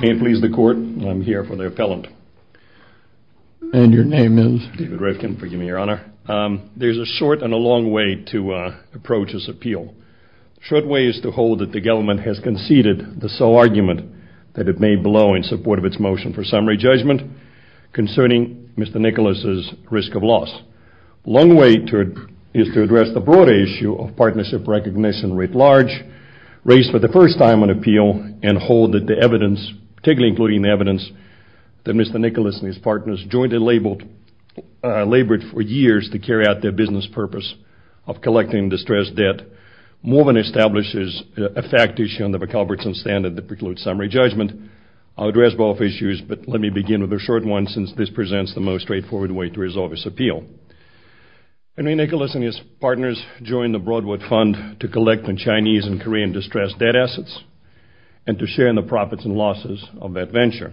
May it please the Court, I'm here for the appellant. And your name is? David Rifkin, forgive me, Your Honor. There's a short and a long way to approach this appeal. The short way is to hold that the government has conceded the sole argument that it made below in support of its motion for summary judgment concerning Mr. Nicholas's risk of loss. The long way is to address the broader issue of partnership recognition writ large, raise for the first time an appeal and hold that the evidence, particularly including the evidence that Mr. Nicholas and his partners jointly labored for years to carry out their business purpose of collecting distressed debt more than establishes a fact issue under the Culbertson standard that precludes summary judgment. I'll address both issues, but let me begin with the short one since this presents the most straightforward way to resolve this appeal. Henry Nicholas and his partners joined the Broadwood Fund to collect on Chinese and Korean distressed debt assets and to share in the profits and losses of that venture.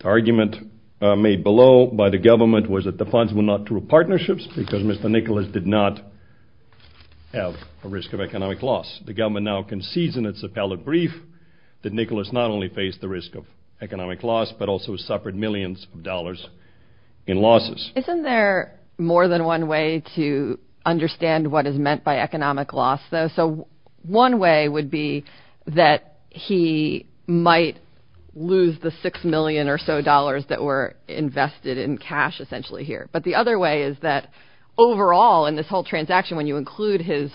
The argument made below by the government was that the funds were not through partnerships because Mr. Nicholas did not have a risk of economic loss. The government now concedes in its appellate brief that Nicholas not only faced the risk of economic loss, but also suffered millions of dollars in losses. Isn't there more than one way to understand what is meant by economic loss, though? So one way would be that he might lose the six million or so dollars that were invested in cash essentially here. But the other way is that overall in this whole transaction, when you include his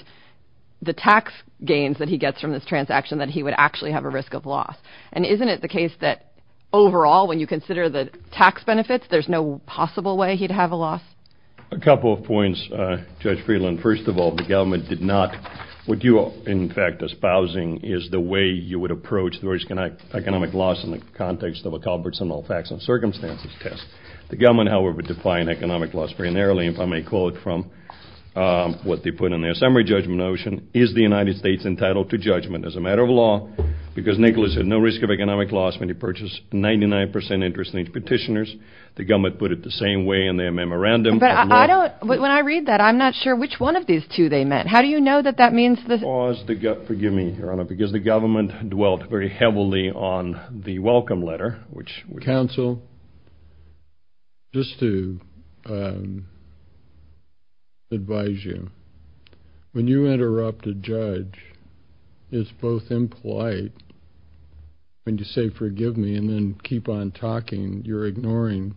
the tax gains that he gets from this transaction, that he would actually have a risk of loss. And isn't it the case that overall, when you consider the tax benefits, there's no possible way he'd have a loss? A couple of points, Judge Friedland. First of all, the government did not. What you are, in fact, espousing is the way you would approach the risk and economic loss in the context of a Culbertson all facts and circumstances test. The government, however, would define economic loss primarily, if I may call it from what they put in their summary judgment notion. Is the United States entitled to judgment as a matter of law? Because Nicholas had no risk of economic loss when he purchased 99 percent interest in his petitioners. The government put it the same way in their memorandum. But I don't when I read that, I'm not sure which one of these two they meant. How do you know that that means the laws? Forgive me, Your Honor, because the government dwelt very heavily on the welcome letter. Counsel, just to advise you, when you interrupt a judge, it's both impolite when you say forgive me and then keep on talking. You're ignoring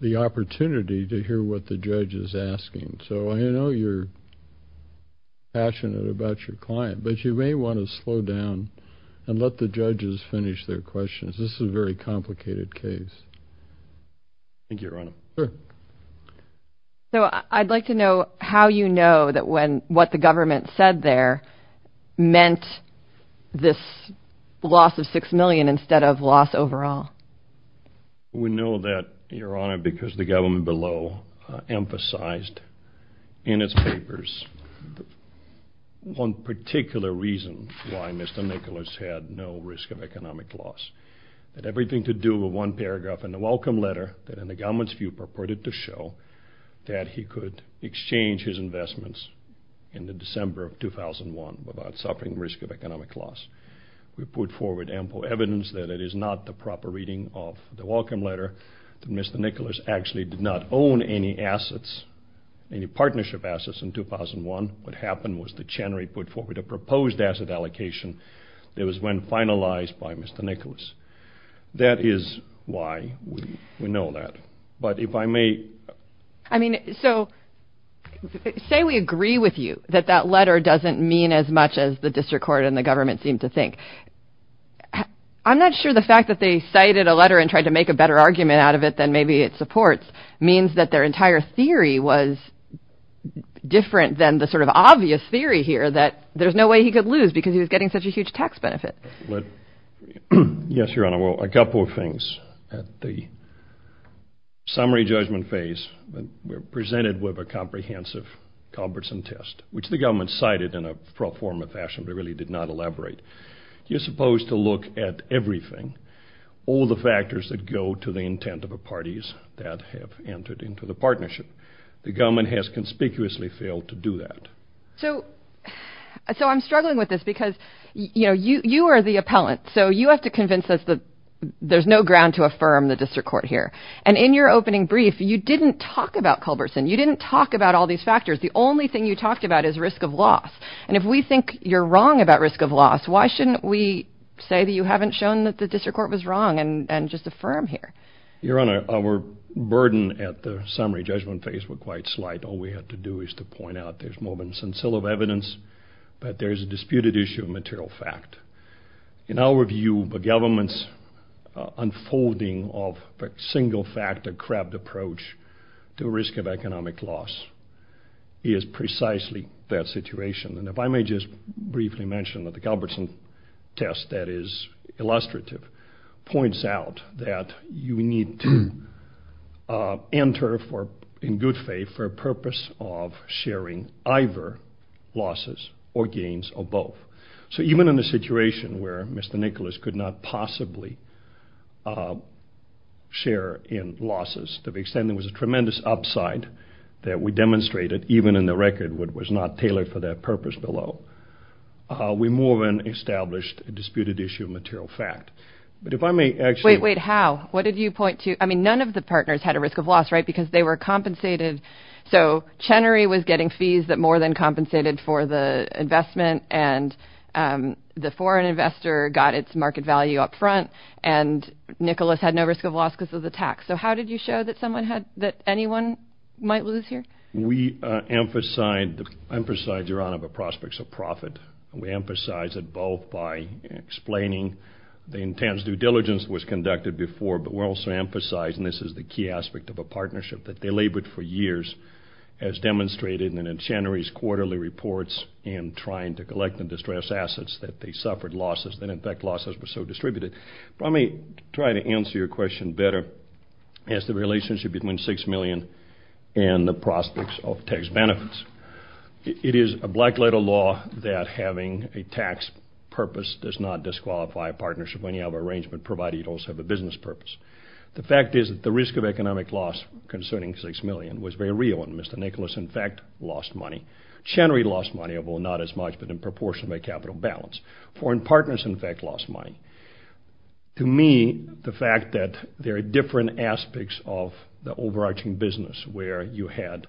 the opportunity to hear what the judge is asking. So I know you're passionate about your client, but you may want to slow down and let the judges finish their questions. This is a very complicated case. Thank you, Your Honor. So I'd like to know how you know that when what the government said there meant this loss of six million instead of loss overall. We know that, Your Honor, because the government below emphasized in its papers one particular reason why Mr. Nicholas had no risk of economic loss. That everything to do with one paragraph in the welcome letter that in the government's view purported to show that he could exchange his investments in the December of 2001 without suffering risk of economic loss. We put forward ample evidence that it is not the proper reading of the welcome letter, that Mr. Nicholas actually did not own any assets, any partnership assets in 2001. What happened was that Chenery put forward a proposed asset allocation that was when finalized by Mr. Nicholas. That is why we know that. But if I may... So say we agree with you that that letter doesn't mean as much as the district court and the government seem to think. I'm not sure the fact that they cited a letter and tried to make a better argument out of it than maybe it supports means that their entire theory was different than the sort of obvious theory here that there's no way he could lose because he was getting such a huge tax benefit. Yes, Your Honor. Well, a couple of things. At the summary judgment phase, we're presented with a comprehensive Culbertson test, which the government cited in a proper form and fashion, but really did not elaborate. You're supposed to look at everything, all the factors that go to the intent of the parties that have entered into the partnership. The government has conspicuously failed to do that. So I'm struggling with this because, you know, you are the appellant. So you have to convince us that there's no ground to affirm the district court here. And in your opening brief, you didn't talk about Culbertson. You didn't talk about all these factors. The only thing you talked about is risk of loss. And if we think you're wrong about risk of loss, why shouldn't we say that you haven't shown that the district court was wrong and just affirm here? Your Honor, our burden at the summary judgment phase were quite slight. All we had to do is to point out there's more than a scintilla of evidence, but there's a disputed issue of material fact. In our view, the government's unfolding of a single-factor crept approach to risk of economic loss is precisely that situation. And if I may just briefly mention that the Culbertson test that is illustrative points out that you need to enter for, in good faith, for a purpose of sharing either losses or gains or both. So even in a situation where Mr. Nicholas could not possibly share in losses, to the extent there was a tremendous upside that we demonstrated, even in the record, what was not tailored for that purpose below, we more than established a disputed issue of material fact. But if I may actually... Wait, wait, how? What did you point to? I mean, none of the partners had a risk of loss, right, because they were compensated. So Chenery was getting fees that more than compensated for the investment, and the foreign investor got its market value up front, and Nicholas had no risk of loss because of the tax. So how did you show that anyone might lose here? We emphasized, Your Honor, the prospects of profit. We emphasized it both by explaining the intense due diligence that was conducted before, but we also emphasized, and this is the key aspect of a partnership, that they labored for years as demonstrated in Chenery's quarterly reports and trying to collect the distressed assets that they suffered losses, and, in fact, losses were so distributed. But let me try to answer your question better. It's the relationship between 6 million and the prospects of tax benefits. It is a black-letter law that having a tax purpose does not disqualify a partnership. If any other arrangement provided, you'd also have a business purpose. The fact is that the risk of economic loss concerning 6 million was very real, and Mr. Nicholas, in fact, lost money. Chenery lost money, although not as much, but in proportion to their capital balance. Foreign partners, in fact, lost money. To me, the fact that there are different aspects of the overarching business where you had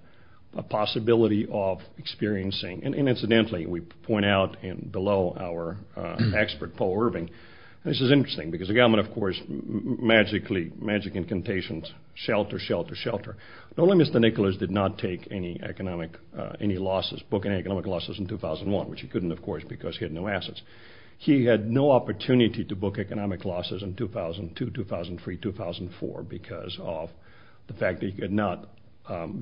a possibility of experiencing, and, incidentally, we point out below our expert, Paul Irving, and this is interesting because the government, of course, magically, magic incantations, shelter, shelter, shelter. Not only did Mr. Nicholas not take any economic losses, book any economic losses in 2001, which he couldn't, of course, because he had no assets. He had no opportunity to book economic losses in 2002, 2003, 2004 because of the fact that he could not,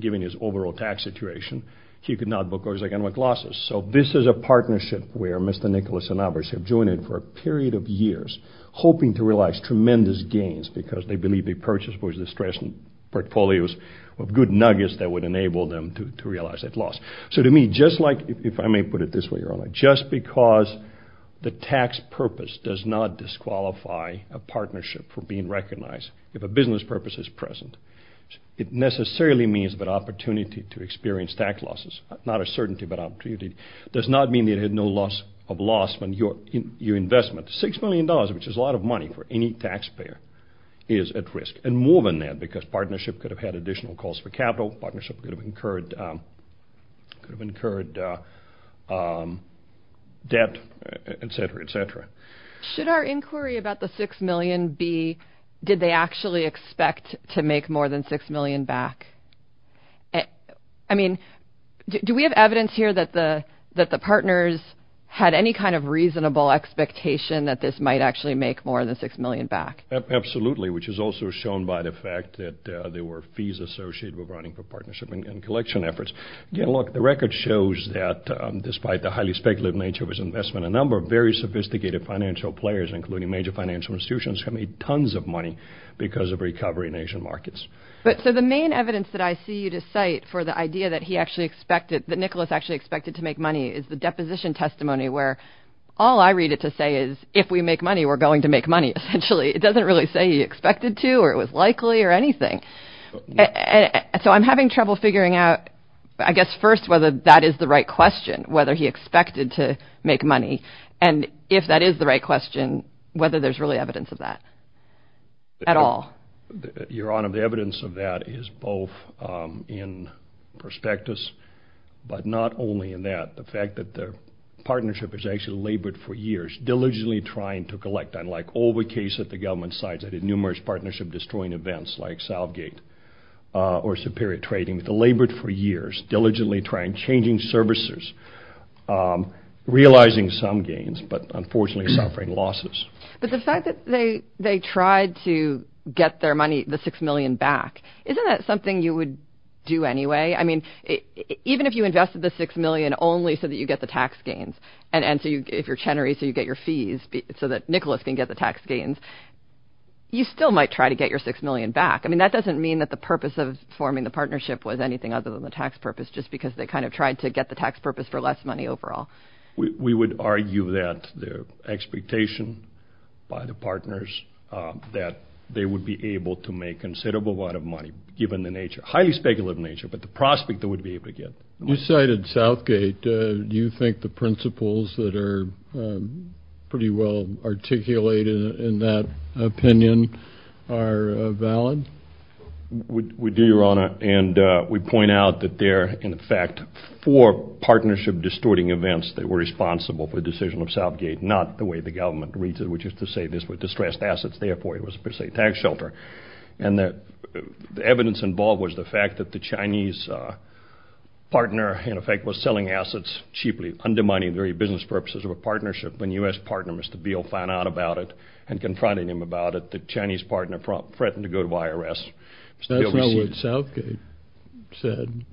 given his overall tax situation, he could not book economic losses. So this is a partnership where Mr. Nicholas and Albers have joined in for a period of years, hoping to realize tremendous gains because they believe they purchased, of course, distressing portfolios of good nuggets that would enable them to realize that loss. So to me, just like, if I may put it this way, just because the tax purpose does not disqualify a partnership from being recognized, if a business purpose is present, it necessarily means that opportunity to experience tax losses, not a certainty, but opportunity, does not mean that it had no loss of loss when your investment, $6 million, which is a lot of money for any taxpayer, is at risk, and more than that because partnership could have had additional calls for capital, partnership could have incurred debt, et cetera, et cetera. Should our inquiry about the $6 million be did they actually expect to make more than $6 million back? I mean, do we have evidence here that the partners had any kind of reasonable expectation that this might actually make more than $6 million back? Absolutely, which is also shown by the fact that there were fees associated with running for partnership and collection efforts. Again, look, the record shows that despite the highly speculative nature of his investment, a number of very sophisticated financial players, including major financial institutions, made tons of money because of recovery in Asian markets. So the main evidence that I see you to cite for the idea that he actually expected, that Nicholas actually expected to make money is the deposition testimony where all I read it to say is, if we make money, we're going to make money, essentially. It doesn't really say he expected to or it was likely or anything. So I'm having trouble figuring out, I guess, first, whether that is the right question, whether he expected to make money, and if that is the right question, whether there's really evidence of that at all. Your Honor, the evidence of that is both in prospectus, but not only in that. The fact that the partnership has actually labored for years, diligently trying to collect, unlike all the cases that the government cited, numerous partnership-destroying events like Salvegate or Superior Trading, they labored for years, diligently trying, changing services, realizing some gains, but unfortunately suffering losses. But the fact that they tried to get their money, the $6 million, back, isn't that something you would do anyway? I mean, even if you invested the $6 million only so that you get the tax gains, and if you're Chenery, so you get your fees so that Nicholas can get the tax gains, you still might try to get your $6 million back. I mean, that doesn't mean that the purpose of forming the partnership was anything other than the tax purpose, just because they kind of tried to get the tax purpose for less money overall. We would argue that the expectation by the partners that they would be able to make considerable amount of money, given the nature, highly speculative nature, but the prospect they would be able to get. You cited Salvegate. Do you think the principles that are pretty well articulated in that opinion are valid? We do, Your Honor, and we point out that there are, in effect, four partnership-destroying events that were responsible for the decision of Salvegate, not the way the government reads it, which is to say this was distressed assets, therefore it was a per se tax shelter. And the evidence involved was the fact that the Chinese partner, in effect, was selling assets cheaply, undermining the very business purposes of a partnership. When U.S. partner, Mr. Beale, found out about it and confronted him about it, the Chinese partner threatened to go to IRS. That's not what Salvegate said.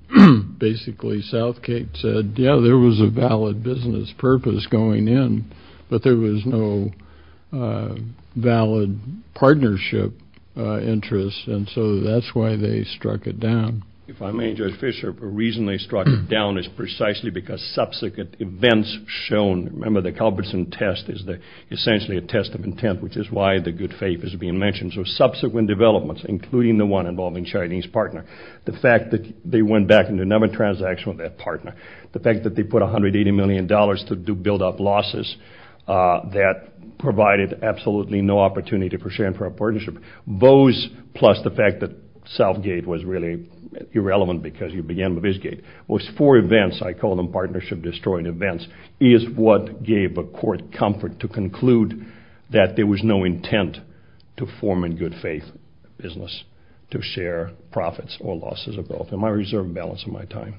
Basically, Salvegate said, yeah, there was a valid business purpose going in, but there was no valid partnership interest, and so that's why they struck it down. If I may, Judge Fischer, a reason they struck it down is precisely because subsequent events shown, remember the Culbertson test is essentially a test of intent, which is why the good faith is being mentioned. So subsequent developments, including the one involving Chinese partner, the fact that they went back into another transaction with that partner, the fact that they put $180 million to build up losses that provided absolutely no opportunity for sharing for a partnership, those plus the fact that Salvegate was really irrelevant because you began with Visgate, those four events, I call them partnership-destroying events, is what gave a court comfort to conclude that there was no intent to form a good faith business to share profits or losses. Those are both in my reserve balance of my time.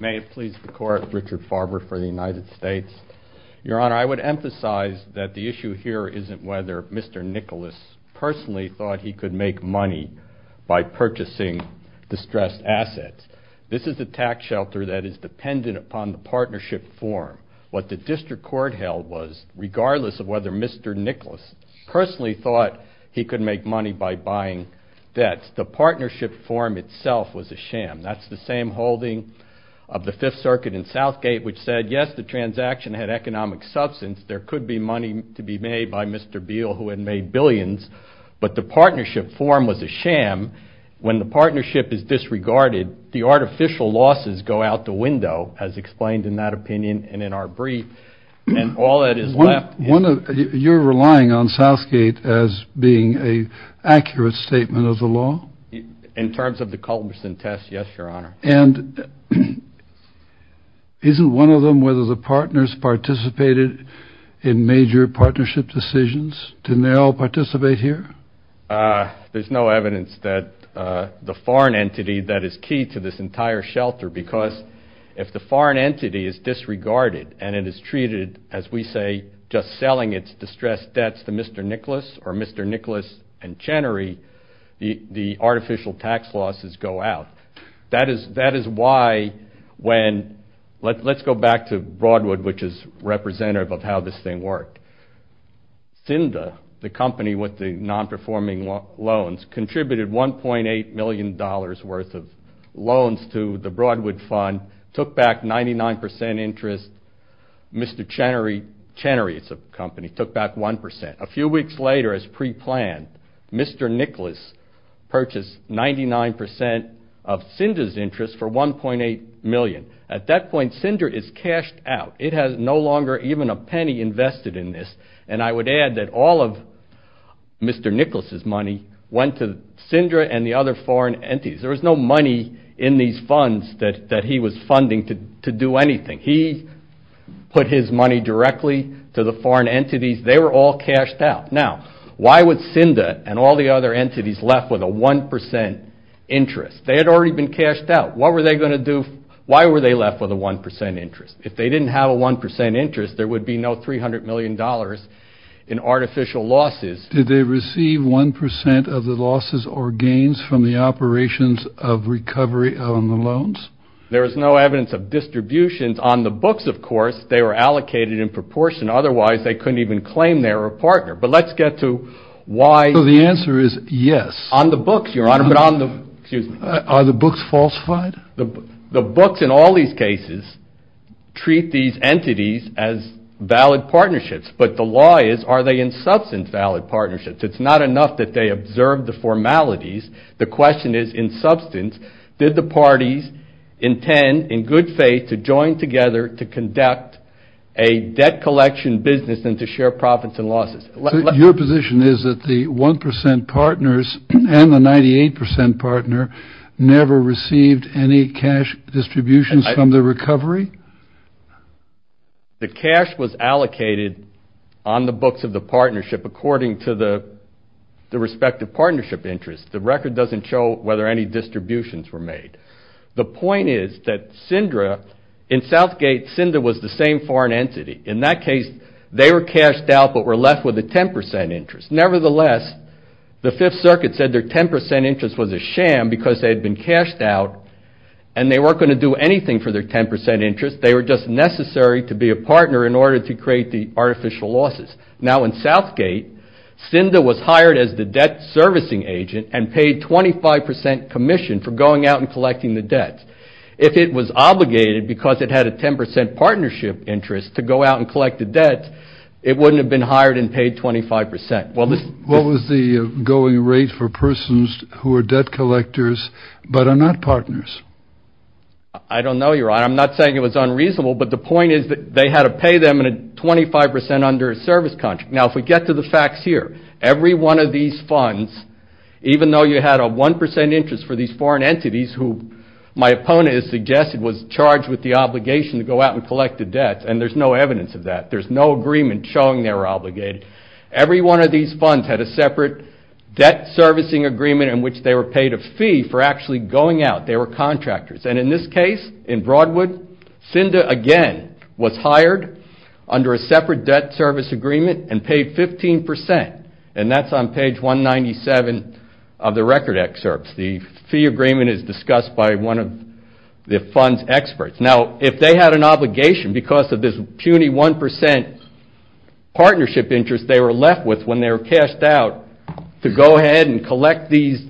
May it please the Court, Richard Farber for the United States. Your Honor, I would emphasize that the issue here isn't whether Mr. Nicholas personally thought he could make money by purchasing distressed assets. This is a tax shelter that is dependent upon the partnership form. What the district court held was, regardless of whether Mr. Nicholas personally thought he could make money by buying debts, the partnership form itself was a sham. That's the same holding of the Fifth Circuit in Southgate which said, yes, the transaction had economic substance. There could be money to be made by Mr. Beale who had made billions, but the partnership form was a sham. When the partnership is disregarded, the artificial losses go out the window, as explained in that opinion and in our brief, and all that is left is- You're relying on Southgate as being an accurate statement of the law? In terms of the Culbertson test, yes, Your Honor. And isn't one of them whether the partners participated in major partnership decisions? Didn't they all participate here? There's no evidence that the foreign entity that is key to this entire shelter, because if the foreign entity is disregarded and it is treated, as we say, just selling its distressed debts to Mr. Nicholas or Mr. Nicholas and Chenery, the artificial tax losses go out. That is why when- Let's go back to Broadwood, which is representative of how this thing worked. Cinder, the company with the non-performing loans, contributed $1.8 million worth of loans to the Broadwood fund, took back 99% interest. Mr. Chenery, it's a company, took back 1%. A few weeks later, as preplanned, Mr. Nicholas purchased 99% of Cinder's interest for $1.8 million. At that point, Cinder is cashed out. It has no longer even a penny invested in this. And I would add that all of Mr. Nicholas's money went to Cinder and the other foreign entities. There was no money in these funds that he was funding to do anything. He put his money directly to the foreign entities. They were all cashed out. Now, why would Cinder and all the other entities left with a 1% interest? They had already been cashed out. What were they going to do? Why were they left with a 1% interest? If they didn't have a 1% interest, there would be no $300 million in artificial losses. Did they receive 1% of the losses or gains from the operations of recovery on the loans? There is no evidence of distributions on the books, of course. They were allocated in proportion. Otherwise, they couldn't even claim they were a partner. But let's get to why- So the answer is yes. On the books, Your Honor, but on the- The books in all these cases treat these entities as valid partnerships. But the law is, are they in substance valid partnerships? It's not enough that they observe the formalities. The question is, in substance, did the parties intend in good faith to join together to conduct a debt collection business and to share profits and losses? Your position is that the 1% partners and the 98% partner never received any cash distributions from the recovery? The cash was allocated on the books of the partnership according to the respective partnership interest. The record doesn't show whether any distributions were made. The point is that SINDA, in Southgate, SINDA was the same foreign entity. In that case, they were cashed out but were left with a 10% interest. Nevertheless, the Fifth Circuit said their 10% interest was a sham because they had been cashed out and they weren't going to do anything for their 10% interest. They were just necessary to be a partner in order to create the artificial losses. Now in Southgate, SINDA was hired as the debt servicing agent and paid 25% commission for going out and collecting the debts. If it was obligated because it had a 10% partnership interest to go out and collect the debt, it wouldn't have been hired and paid 25%. What was the going rate for persons who are debt collectors but are not partners? I don't know, Your Honor. I'm not saying it was unreasonable, but the point is that they had to pay them 25% under a service contract. Now if we get to the facts here, every one of these funds, even though you had a 1% interest for these foreign entities, who my opponent has suggested was charged with the obligation to go out and collect the debt, and there's no evidence of that, there's no agreement showing they were obligated, every one of these funds had a separate debt servicing agreement in which they were paid a fee for actually going out. They were contractors. And in this case, in Broadwood, SINDA again was hired under a separate debt service agreement and paid 15%. And that's on page 197 of the record excerpts. The fee agreement is discussed by one of the fund's experts. Now if they had an obligation because of this puny 1% partnership interest they were left with when they were cashed out to go ahead and collect these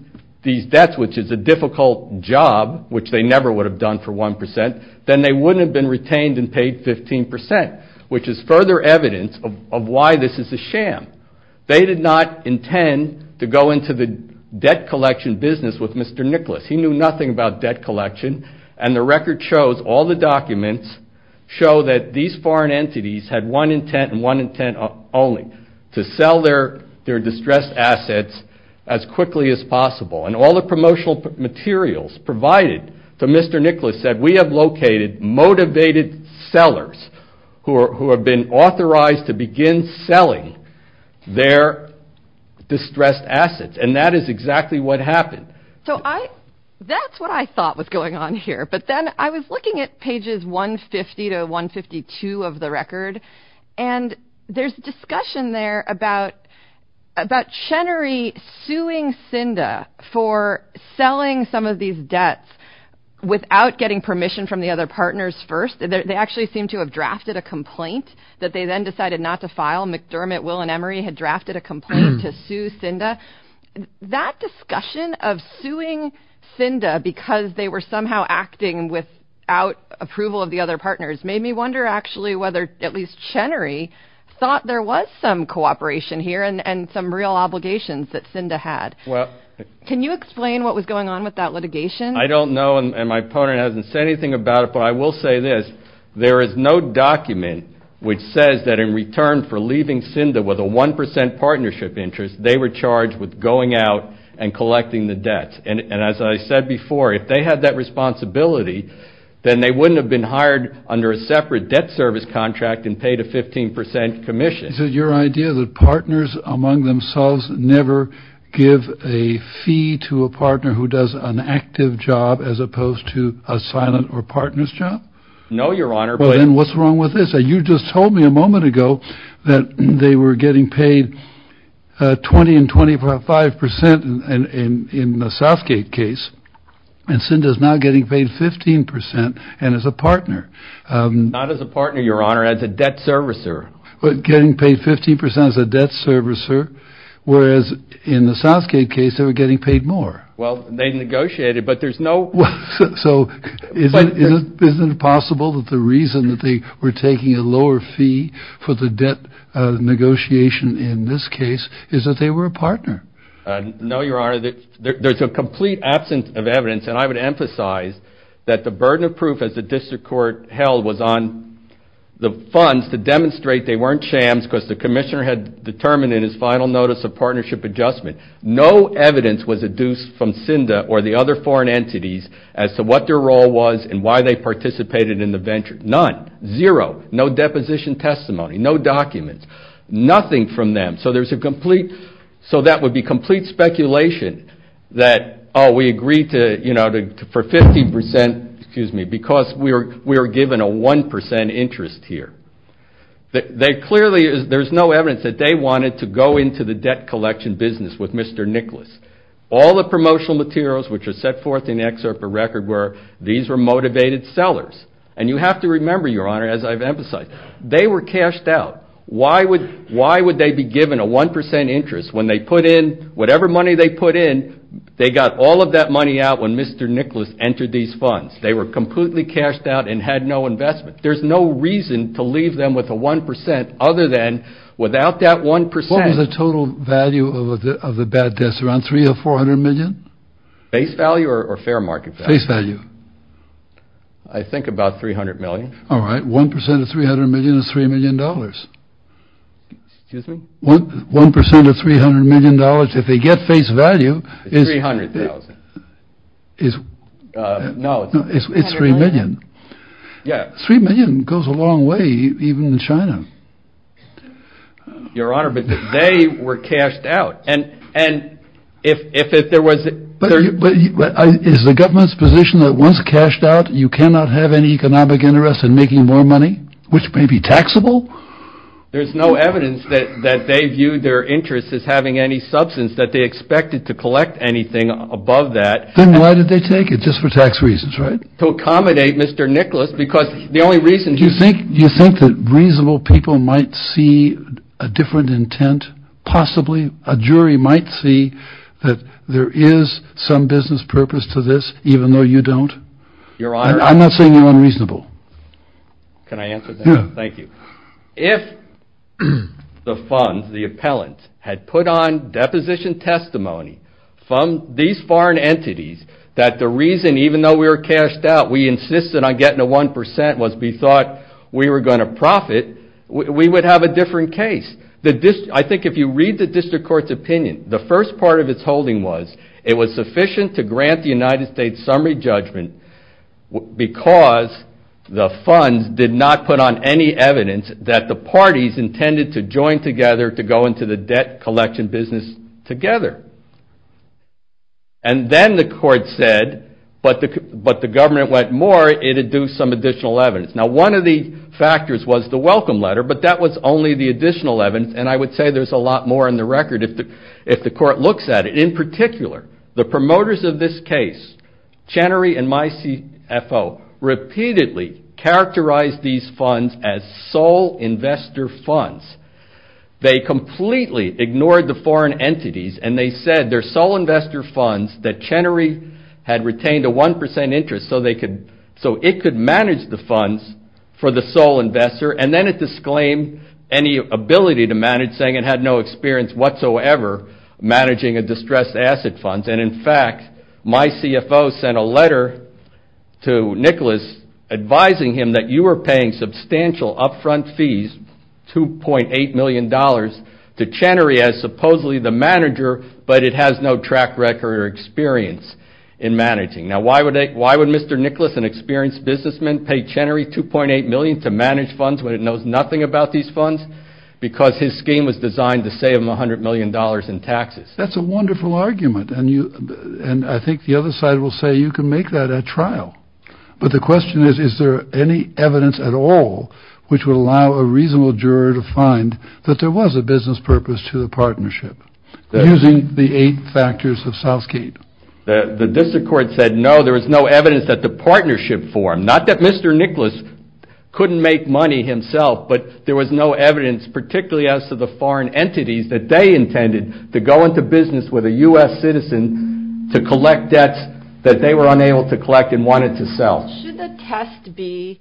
debts, which is a difficult job, which they never would have done for 1%, then they wouldn't have been retained and paid 15%, which is further evidence of why this is a sham. They did not intend to go into the debt collection business with Mr. Nicholas. He knew nothing about debt collection. And the record shows, all the documents show that these foreign entities had one intent and one intent only, to sell their distressed assets as quickly as possible. And all the promotional materials provided to Mr. Nicholas said, we have located motivated sellers who have been authorized to begin selling their distressed assets. And that is exactly what happened. So that's what I thought was going on here. But then I was looking at pages 150 to 152 of the record. And there's discussion there about Chenery suing Cinda for selling some of these debts without getting permission from the other partners first. They actually seem to have drafted a complaint that they then decided not to file. McDermott, Will, and Emery had drafted a complaint to sue Cinda. That discussion of suing Cinda because they were somehow acting without approval of the other partners made me wonder actually whether at least Chenery thought there was some cooperation here and some real obligations that Cinda had. Can you explain what was going on with that litigation? I don't know, and my opponent hasn't said anything about it, but I will say this. There is no document which says that in return for leaving Cinda with a 1% partnership interest, they were charged with going out and collecting the debts. And as I said before, if they had that responsibility, then they wouldn't have been hired under a separate debt service contract and paid a 15% commission. Is it your idea that partners among themselves never give a fee to a partner who does an active job as opposed to a silent or partner's job? No, Your Honor. Well, then what's wrong with this? You just told me a moment ago that they were getting paid 20 and 25% in the Southgate case, and Cinda is now getting paid 15% and as a partner. Not as a partner, Your Honor, as a debt servicer. Getting paid 15% as a debt servicer, whereas in the Southgate case they were getting paid more. Well, they negotiated, but there's no... So isn't it possible that the reason that they were taking a lower fee for the debt negotiation in this case is that they were a partner? No, Your Honor. There's a complete absence of evidence, and I would emphasize that the burden of proof as the district court held was on the funds to demonstrate they weren't shams because the commissioner had determined in his final notice of partnership adjustment no evidence was adduced from Cinda or the other foreign entities as to what their role was and why they participated in the venture. None. Zero. No deposition testimony. No documents. Nothing from them. So there's a complete... So that would be complete speculation that, oh, we agreed for 15% because we were given a 1% interest here. Clearly there's no evidence that they wanted to go into the debt collection business with Mr. Nicholas. All the promotional materials which are set forth in the excerpt for record were these were motivated sellers. And you have to remember, Your Honor, as I've emphasized, they were cashed out. Why would they be given a 1% interest when they put in whatever money they put in, they got all of that money out when Mr. Nicholas entered these funds. They were completely cashed out and had no investment. There's no reason to leave them with a 1% other than without that 1%. What was the total value of the bad debts, around $300 or $400 million? Face value or fair market value? Face value. I think about $300 million. All right. 1% of $300 million is $3 million. Excuse me? 1% of $300 million if they get face value is... $300,000. No, it's $300 million. Yeah. $3 million goes a long way, even in China. Your Honor, but they were cashed out. And if there was... Is the government's position that once cashed out, you cannot have any economic interest in making more money, which may be taxable? There's no evidence that they viewed their interest as having any substance that they expected to collect anything above that. Then why did they take it? Just for tax reasons, right? To accommodate Mr. Nicholas, because the only reason... Do you think that reasonable people might see a different intent? Possibly a jury might see that there is some business purpose to this, even though you don't? Your Honor... I'm not saying you're unreasonable. Can I answer that? Yeah. Thank you. If the funds, the appellant, had put on deposition testimony from these foreign entities that the reason, even though we were cashed out, we insisted on getting a 1% was we thought we were going to profit, we would have a different case. I think if you read the district court's opinion, the first part of its holding was it was sufficient to grant the United States summary judgment because the funds did not put on any evidence that the parties intended to join together to go into the debt collection business together. And then the court said, but the government went more, it had due some additional evidence. Now, one of the factors was the welcome letter, but that was only the additional evidence, and I would say there's a lot more in the record if the court looks at it. In particular, the promoters of this case, Chenery and my CFO, repeatedly characterized these funds as sole investor funds. They completely ignored the foreign entities, and they said they're sole investor funds that Chenery had retained a 1% interest so it could manage the funds for the sole investor, and then it disclaimed any ability to manage, saying it had no experience whatsoever managing a distressed asset fund. And in fact, my CFO sent a letter to Nicholas advising him that you were paying substantial up front fees, $2.8 million to Chenery as supposedly the manager, but it has no track record or experience in managing. Now, why would Mr. Nicholas, an experienced businessman, pay Chenery $2.8 million to manage funds when it knows nothing about these funds? Because his scheme was designed to save him $100 million in taxes. That's a wonderful argument, and I think the other side will say you can make that at trial. But the question is, is there any evidence at all which would allow a reasonable juror to find that there was a business purpose to the partnership, using the eight factors of Southgate? The district court said no, there was no evidence that the partnership formed. Not that Mr. Nicholas couldn't make money himself, but there was no evidence, particularly as to the foreign entities that they intended to go into business with a U.S. citizen to collect debts that they were unable to collect and wanted to sell. Should the test be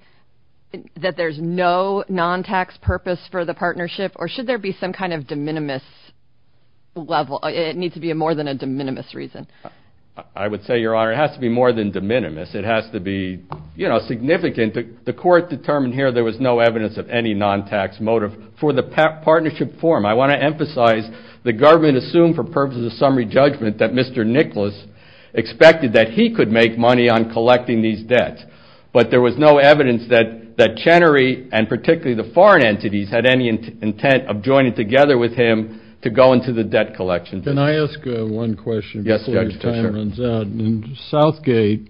that there's no non-tax purpose for the partnership, or should there be some kind of de minimis level? It needs to be more than a de minimis reason. I would say, Your Honor, it has to be more than de minimis. It has to be, you know, significant. The court determined here there was no evidence of any non-tax motive for the partnership form. I want to emphasize the government assumed for purposes of summary judgment that Mr. Nicholas expected that he could make money on collecting these debts. But there was no evidence that Chenery, and particularly the foreign entities, had any intent of joining together with him to go into the debt collection business. Can I ask one question before your time runs out? In Southgate,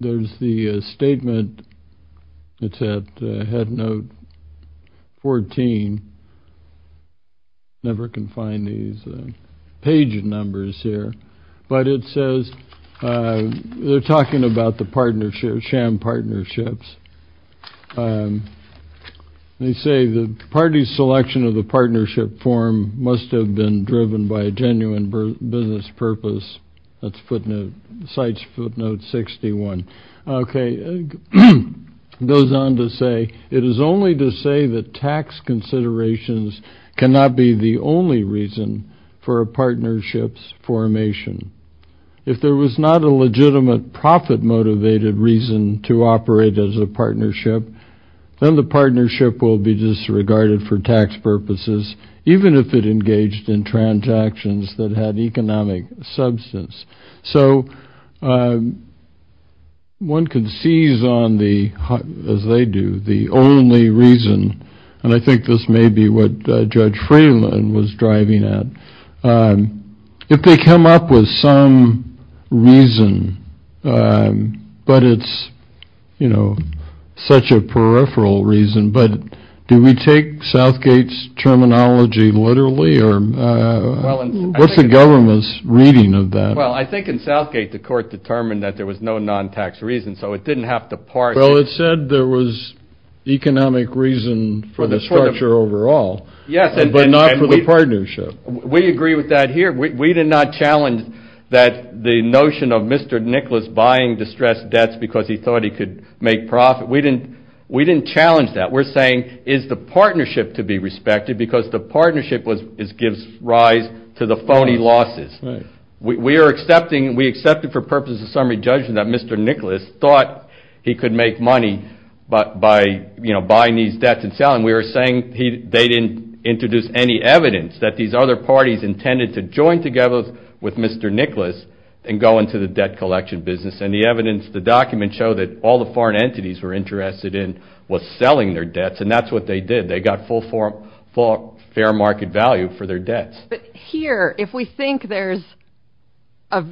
there's the statement that's at Headnote 14. I never can find these page numbers here. But it says they're talking about the partnership, sham partnerships. They say the party's selection of the partnership form must have been driven by a genuine business purpose. That's footnote, Cite's footnote 61. Okay, it goes on to say, It is only to say that tax considerations cannot be the only reason for a partnership's formation. If there was not a legitimate profit-motivated reason to operate as a partnership, then the partnership will be disregarded for tax purposes, even if it engaged in transactions that had economic substance. So one can seize on the, as they do, the only reason, and I think this may be what Judge Freeland was driving at, if they come up with some reason, but it's, you know, such a peripheral reason, but do we take Southgate's terminology literally, or what's the government's reading of that? Well, I think in Southgate, the court determined that there was no non-tax reason, so it didn't have to parse it. Well, it said there was economic reason for the structure overall, but not for the partnership. We agree with that here. We did not challenge that the notion of Mr. Nicholas buying distressed debts because he thought he could make profit. We didn't challenge that. We're saying is the partnership to be respected because the partnership gives rise to the phony losses. We are accepting, we accepted for purposes of summary judgment that Mr. Nicholas thought he could make money by, you know, buying these debts and selling them. And we were saying they didn't introduce any evidence that these other parties intended to join together with Mr. Nicholas and go into the debt collection business. And the evidence, the documents show that all the foreign entities were interested in was selling their debts, and that's what they did. They got full fair market value for their debts. But here, if we think there's a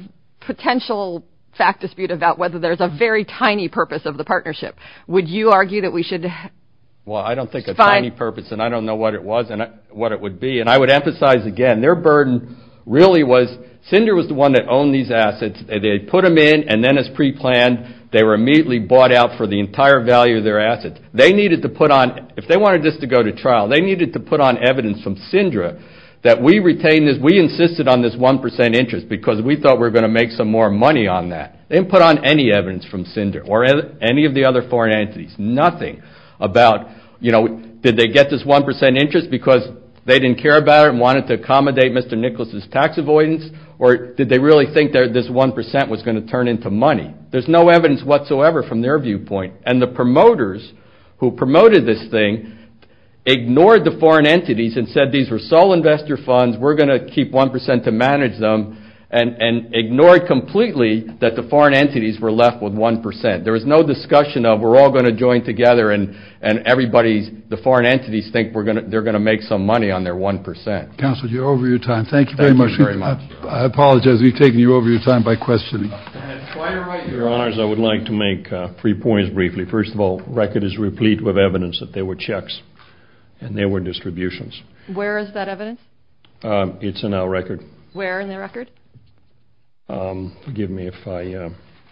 potential fact dispute about whether there's a very tiny purpose of the partnership, would you argue that we should? Well, I don't think it's a tiny purpose, and I don't know what it was and what it would be. And I would emphasize again, their burden really was CINDRA was the one that owned these assets. They put them in, and then as preplanned, they were immediately bought out for the entire value of their assets. They needed to put on, if they wanted this to go to trial, they needed to put on evidence from CINDRA that we retained this, we insisted on this 1% interest because we thought we were going to make some more money on that. They didn't put on any evidence from CINDRA or any of the other foreign entities. Nothing about, you know, did they get this 1% interest because they didn't care about it and wanted to accommodate Mr. Nicholas's tax avoidance, or did they really think this 1% was going to turn into money? There's no evidence whatsoever from their viewpoint. And the promoters who promoted this thing ignored the foreign entities and said these were sole investor funds, we're going to keep 1% to manage them, and ignored completely that the foreign entities were left with 1%. There was no discussion of we're all going to join together and everybody's, the foreign entities think they're going to make some money on their 1%. Counselor, you're over your time. Thank you very much. Thank you very much. I apologize, we've taken you over your time by questioning. Your Honors, I would like to make three points briefly. First of all, the record is replete with evidence that there were checks and there were distributions. Where is that evidence? It's in our record. Where in the record? Forgive me if I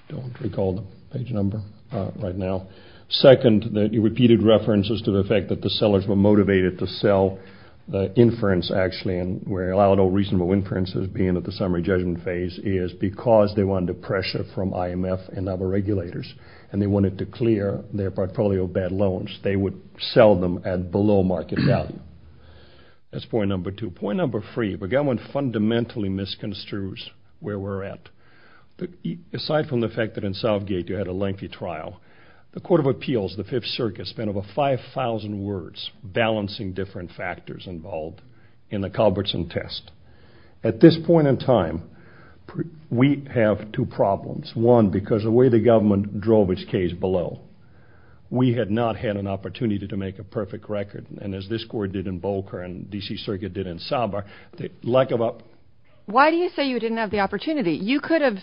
don't recall the page number right now. Second, the repeated references to the fact that the sellers were motivated to sell the inference actually, and we're allowed all reasonable inferences being at the summary judgment phase, is because they were under pressure from IMF and other regulators, and they wanted to clear their portfolio of bad loans. They would sell them at below market value. That's point number two. Point number three, the government fundamentally misconstrues where we're at. Aside from the fact that in Southgate you had a lengthy trial, the Court of Appeals, the Fifth Circuit, spent over 5,000 words balancing different factors involved in the Culbertson test. At this point in time, we have two problems. One, because of the way the government drove its case below. We had not had an opportunity to make a perfect record, and as this court did in Bolker and D.C. Circuit did in Saba, the lack of a... Why do you say you didn't have the opportunity? You could have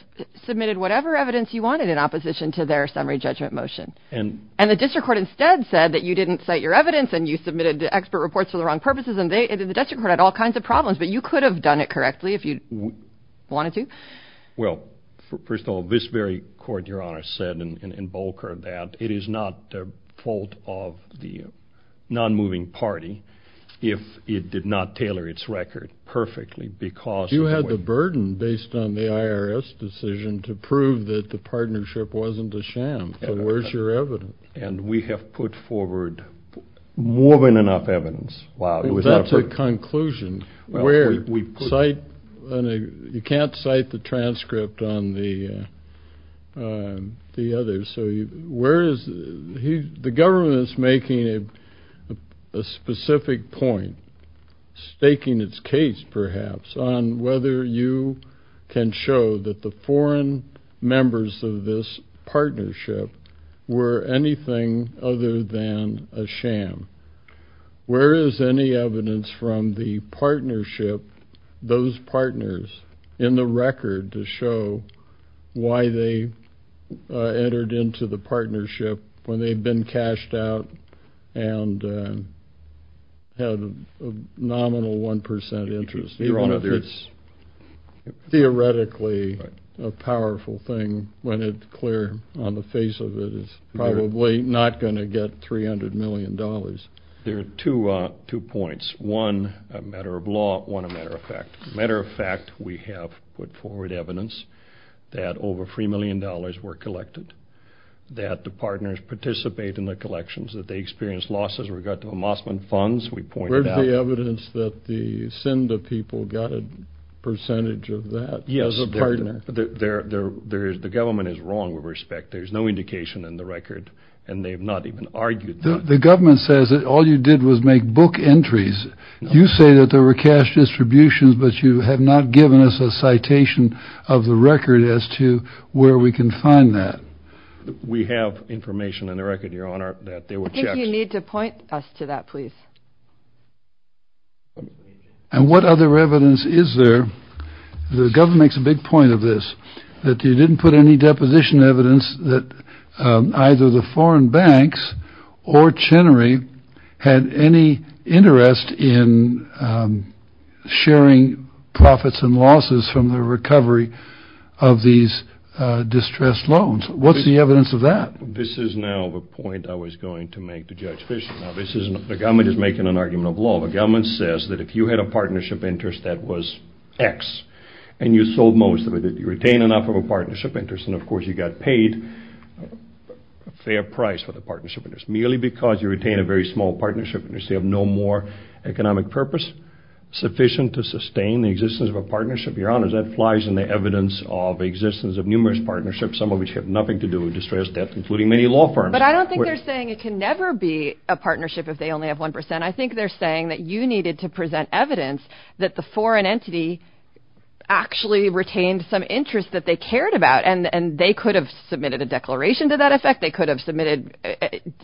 submitted whatever evidence you wanted in opposition to their summary judgment motion, and the district court instead said that you didn't cite your evidence and you submitted expert reports for the wrong purposes, and the district court had all kinds of problems, but you could have done it correctly if you wanted to? Well, first of all, this very court, Your Honor, said in Bolker that it is not the fault of the non-moving party if it did not tailor its record perfectly because... You had the burden, based on the IRS decision, to prove that the partnership wasn't a sham, so where's your evidence? And we have put forward more than enough evidence. That's a conclusion. You can't cite the transcript on the others, so where is... The government is making a specific point, staking its case perhaps, on whether you can show that the foreign members of this partnership were anything other than a sham. Where is any evidence from the partnership, those partners, in the record, to show why they entered into the partnership when they'd been cashed out and had a nominal 1% interest, even if it's theoretically a powerful thing, when it's clear on the face of it it's probably not going to get $300 million. There are two points. One, a matter of law. One, a matter of fact. Matter of fact, we have put forward evidence that over $3 million were collected, that the partners participate in the collections, that they experience losses with regard to emossment funds. Where's the evidence that the SINDA people got a percentage of that as a partner? Yes, the government is wrong with respect. There's no indication in the record, and they have not even argued that. The government says that all you did was make book entries. You say that there were cash distributions, but you have not given us a citation of the record as to where we can find that. We have information in the record, Your Honor, that there were checks. I think you need to point us to that, please. And what other evidence is there? The government makes a big point of this, that they didn't put any deposition evidence that either the foreign banks or Chenery had any interest in sharing profits and losses from the recovery of these distressed loans. What's the evidence of that? This is now the point I was going to make to Judge Fischer. The government is making an argument of law. The government says that if you had a partnership interest that was X, and you sold most of it, you retained enough of a partnership interest, and, of course, you got paid a fair price for the partnership interest, merely because you retained a very small partnership interest. You have no more economic purpose sufficient to sustain the existence of a partnership. Your Honor, that flies in the evidence of the existence of numerous partnerships, some of which have nothing to do with distressed debt, including many law firms. But I don't think they're saying it can never be a partnership if they only have 1%. I think they're saying that you needed to present evidence that the foreign entity actually retained some interest that they cared about, and they could have submitted a declaration to that effect. They could have submitted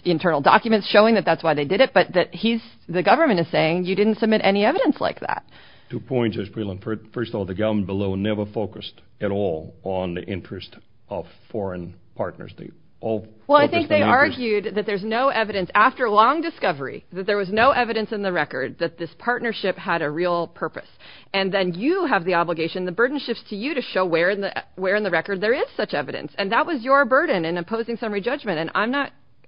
internal documents showing that that's why they did it, but the government is saying you didn't submit any evidence like that. Two points, Judge Breland. First of all, the government below never focused at all on the interest of foreign partners. Well, I think they argued that there's no evidence, after a long discovery, that there was no evidence in the record that this partnership had a real purpose. And then you have the obligation, the burden shifts to you, to show where in the record there is such evidence. And that was your burden in opposing summary judgment, and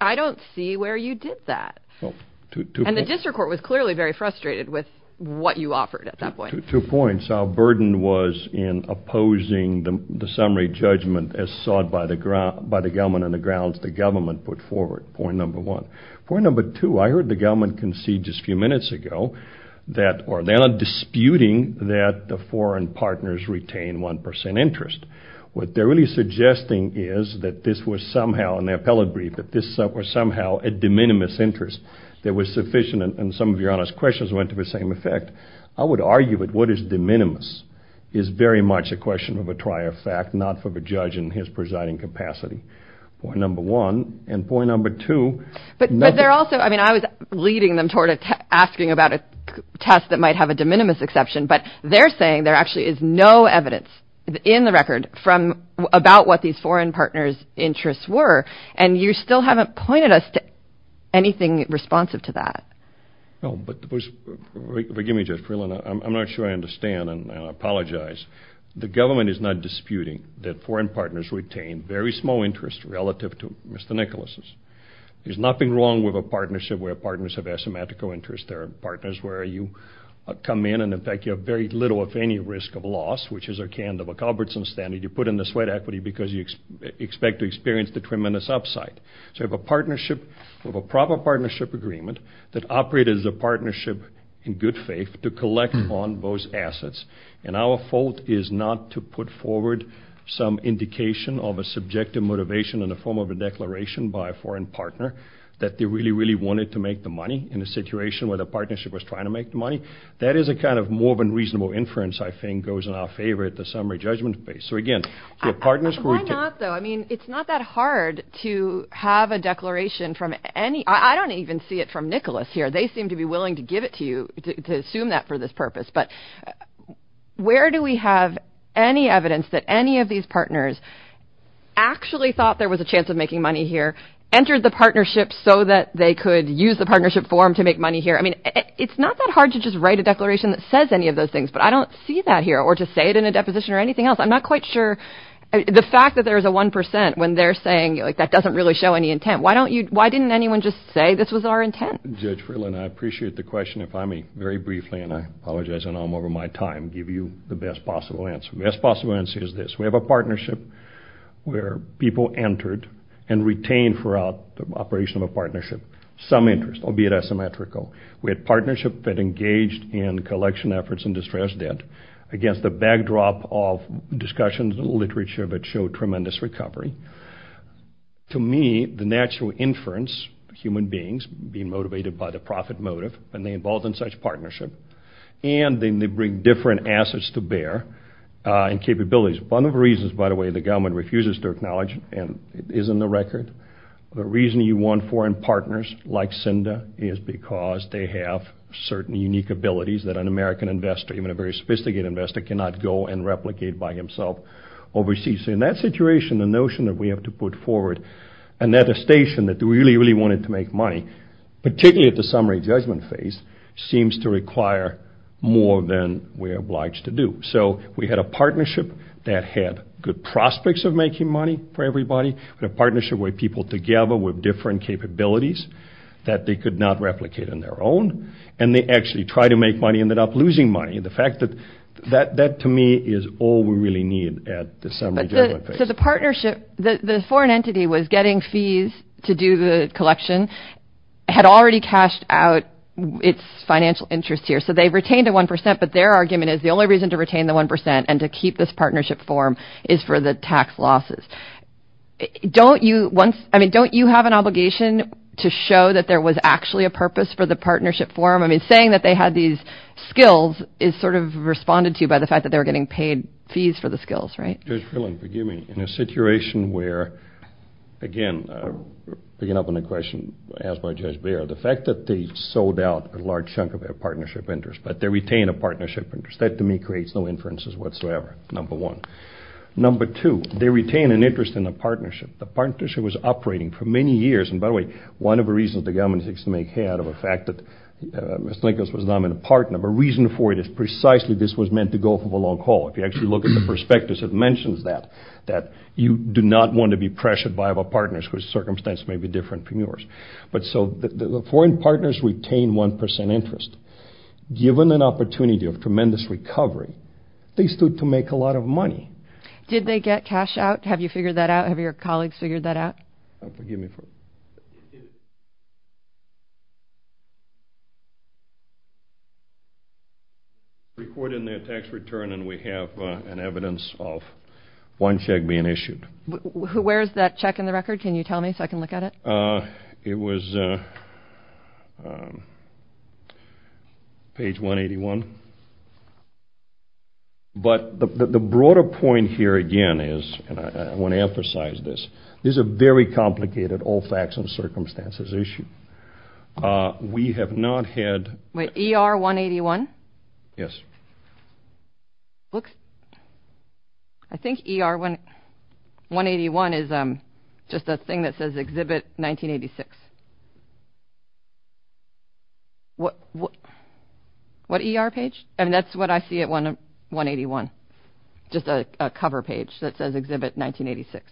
I don't see where you did that. And the district court was clearly very frustrated with what you offered at that point. Two points. Our burden was in opposing the summary judgment as sought by the government on the grounds the government put forward, point number one. Point number two, I heard the government concede just a few minutes ago that they're not disputing that the foreign partners retain 1% interest. What they're really suggesting is that this was somehow, in their appellate brief, that this was somehow a de minimis interest that was sufficient, and some of your honest questions went to the same effect. I would argue that what is de minimis is very much a question of a trier fact, not for the judge in his presiding capacity, point number one. And point number two. But they're also, I mean, I was leading them toward asking about a test that might have a de minimis exception, but they're saying there actually is no evidence in the record about what these foreign partners' interests were, and you still haven't pointed us to anything responsive to that. No, but forgive me, Judge Freeland, I'm not sure I understand, and I apologize. The government is not disputing that foreign partners retain very small interest relative to Mr. Nicholas's. There's nothing wrong with a partnership where partners have asymmetrical interests. There are partners where you come in and, in fact, you have very little, if any, risk of loss, which is a kind of a Culbertson standard you put in the sweat equity because you expect to experience the tremendous upside. So you have a partnership, a proper partnership agreement, that operated as a partnership in good faith to collect on those assets, and our fault is not to put forward some indication of a subjective motivation in the form of a declaration by a foreign partner that they really, really wanted to make the money in a situation where the partnership was trying to make the money. That is a kind of more of a reasonable inference, I think, goes in our favor at the summary judgment phase. So, again, the partners who are— Why not, though? I mean, it's not that hard to have a declaration from any— I don't even see it from Nicholas here. They seem to be willing to give it to you, to assume that for this purpose. But where do we have any evidence that any of these partners actually thought there was a chance of making money here, entered the partnership so that they could use the partnership form to make money here? I mean, it's not that hard to just write a declaration that says any of those things, but I don't see that here or to say it in a deposition or anything else. I'm not quite sure. The fact that there is a 1% when they're saying, like, that doesn't really show any intent. Why didn't anyone just say this was our intent? Judge Freeland, I appreciate the question. If I may very briefly, and I apologize and I'm over my time, give you the best possible answer. The best possible answer is this. We have a partnership where people entered and retained throughout the operation of a partnership some interest, albeit asymmetrical. We had a partnership that engaged in collection efforts and distressed debt against the backdrop of discussions and literature that showed tremendous recovery. To me, the natural inference, human beings being motivated by the profit motive, and they involved in such partnership, and then they bring different assets to bear and capabilities. One of the reasons, by the way, the government refuses to acknowledge, and it is in the record, the reason you want foreign partners like CINDA is because they have certain unique abilities that an American investor, even a very sophisticated investor, cannot go and replicate by himself overseas. So in that situation, the notion that we have to put forward an attestation that we really, really wanted to make money, particularly at the summary judgment phase, seems to require more than we are obliged to do. So we had a partnership that had good prospects of making money for everybody. We had a partnership where people together with different capabilities that they could not replicate on their own, and they actually tried to make money and ended up losing money. The fact that that, to me, is all we really need at the summary judgment phase. So the partnership, the foreign entity was getting fees to do the collection, had already cashed out its financial interest here, so they retained the 1%, but their argument is the only reason to retain the 1% and to keep this partnership form is for the tax losses. Don't you once, I mean, don't you have an obligation to show that there was actually a purpose for the partnership form? I mean, saying that they had these skills is sort of responded to by the fact that they were getting paid fees for the skills, right? Judge Frillin, forgive me. In a situation where, again, picking up on the question asked by Judge Bayer, the fact that they sold out a large chunk of their partnership interest, but they retained a partnership interest, that, to me, creates no inferences whatsoever, number one. Number two, they retained an interest in the partnership. The partnership was operating for many years, and by the way, one of the reasons the government seeks to make hay out of the fact that Ms. Nichols was not a partner, but the reason for it is precisely this was meant to go for the long haul. If you actually look at the prospectus, it mentions that, that you do not want to be pressured by other partners whose circumstance may be different from yours. But so the foreign partners retain 1% interest. Given an opportunity of tremendous recovery, they stood to make a lot of money. Did they get cash out? Have you figured that out? Have your colleagues figured that out? Forgive me. Recorded in their tax return, and we have an evidence of one check being issued. Where is that check in the record? Can you tell me so I can look at it? It was page 181. But the broader point here, again, is, and I want to emphasize this, this is a very complicated all facts and circumstances issue. We have not had. Wait, ER 181? Yes. I think ER 181 is just a thing that says exhibit 1986. What ER page? I mean, that's what I see at 181, just a cover page that says exhibit 1986.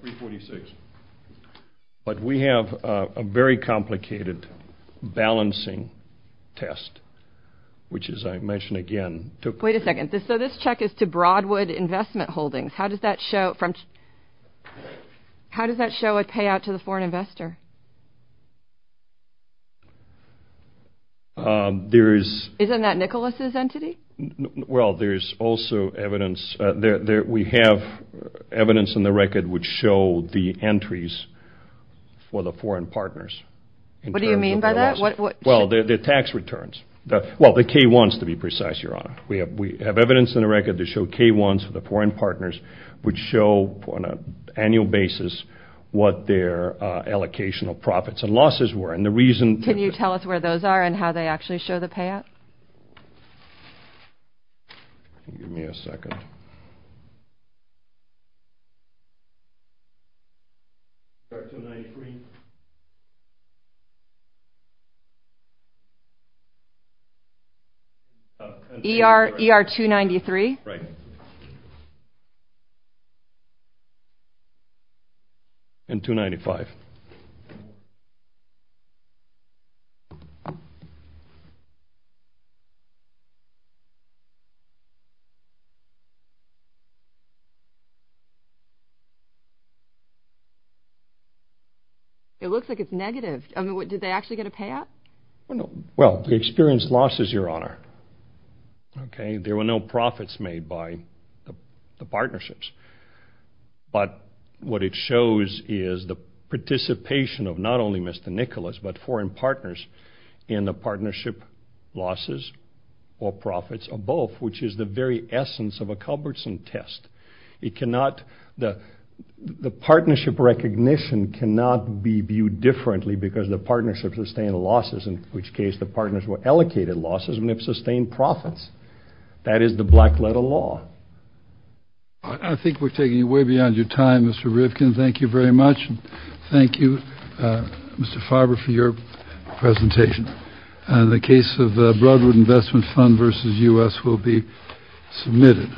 346. But we have a very complicated balancing test, which, as I mentioned again, took place. Wait a second. So this check is to Broadwood Investment Holdings. How does that show a payout to the foreign investor? Isn't that Nicholas's entity? Well, there's also evidence. We have evidence in the record which show the entries for the foreign partners. What do you mean by that? Well, the tax returns. We have evidence in the record that show K1s for the foreign partners would show on an annual basis what their allocational profits and losses were. Can you tell us where those are and how they actually show the payout? Give me a second. ER 293. ER 293? Right. And 295. It looks like it's negative. I mean, did they actually get a payout? Well, the experience loss is your honor. Okay? There were no profits made by the partnerships. But what it shows is the participation of not only Mr. Nicholas, but foreign partners in the partnership losses or profits of both, which is the very essence of a Culbertson test. The partnership recognition cannot be viewed differently because the partnerships are staying losses, in which case the partners were allocated losses and have sustained profits. That is the black letter law. I think we're taking you way beyond your time, Mr. Rifkin. Thank you very much. Thank you, Mr. Farber, for your presentation. The case of Broadwood Investment Fund versus U.S. will be submitted.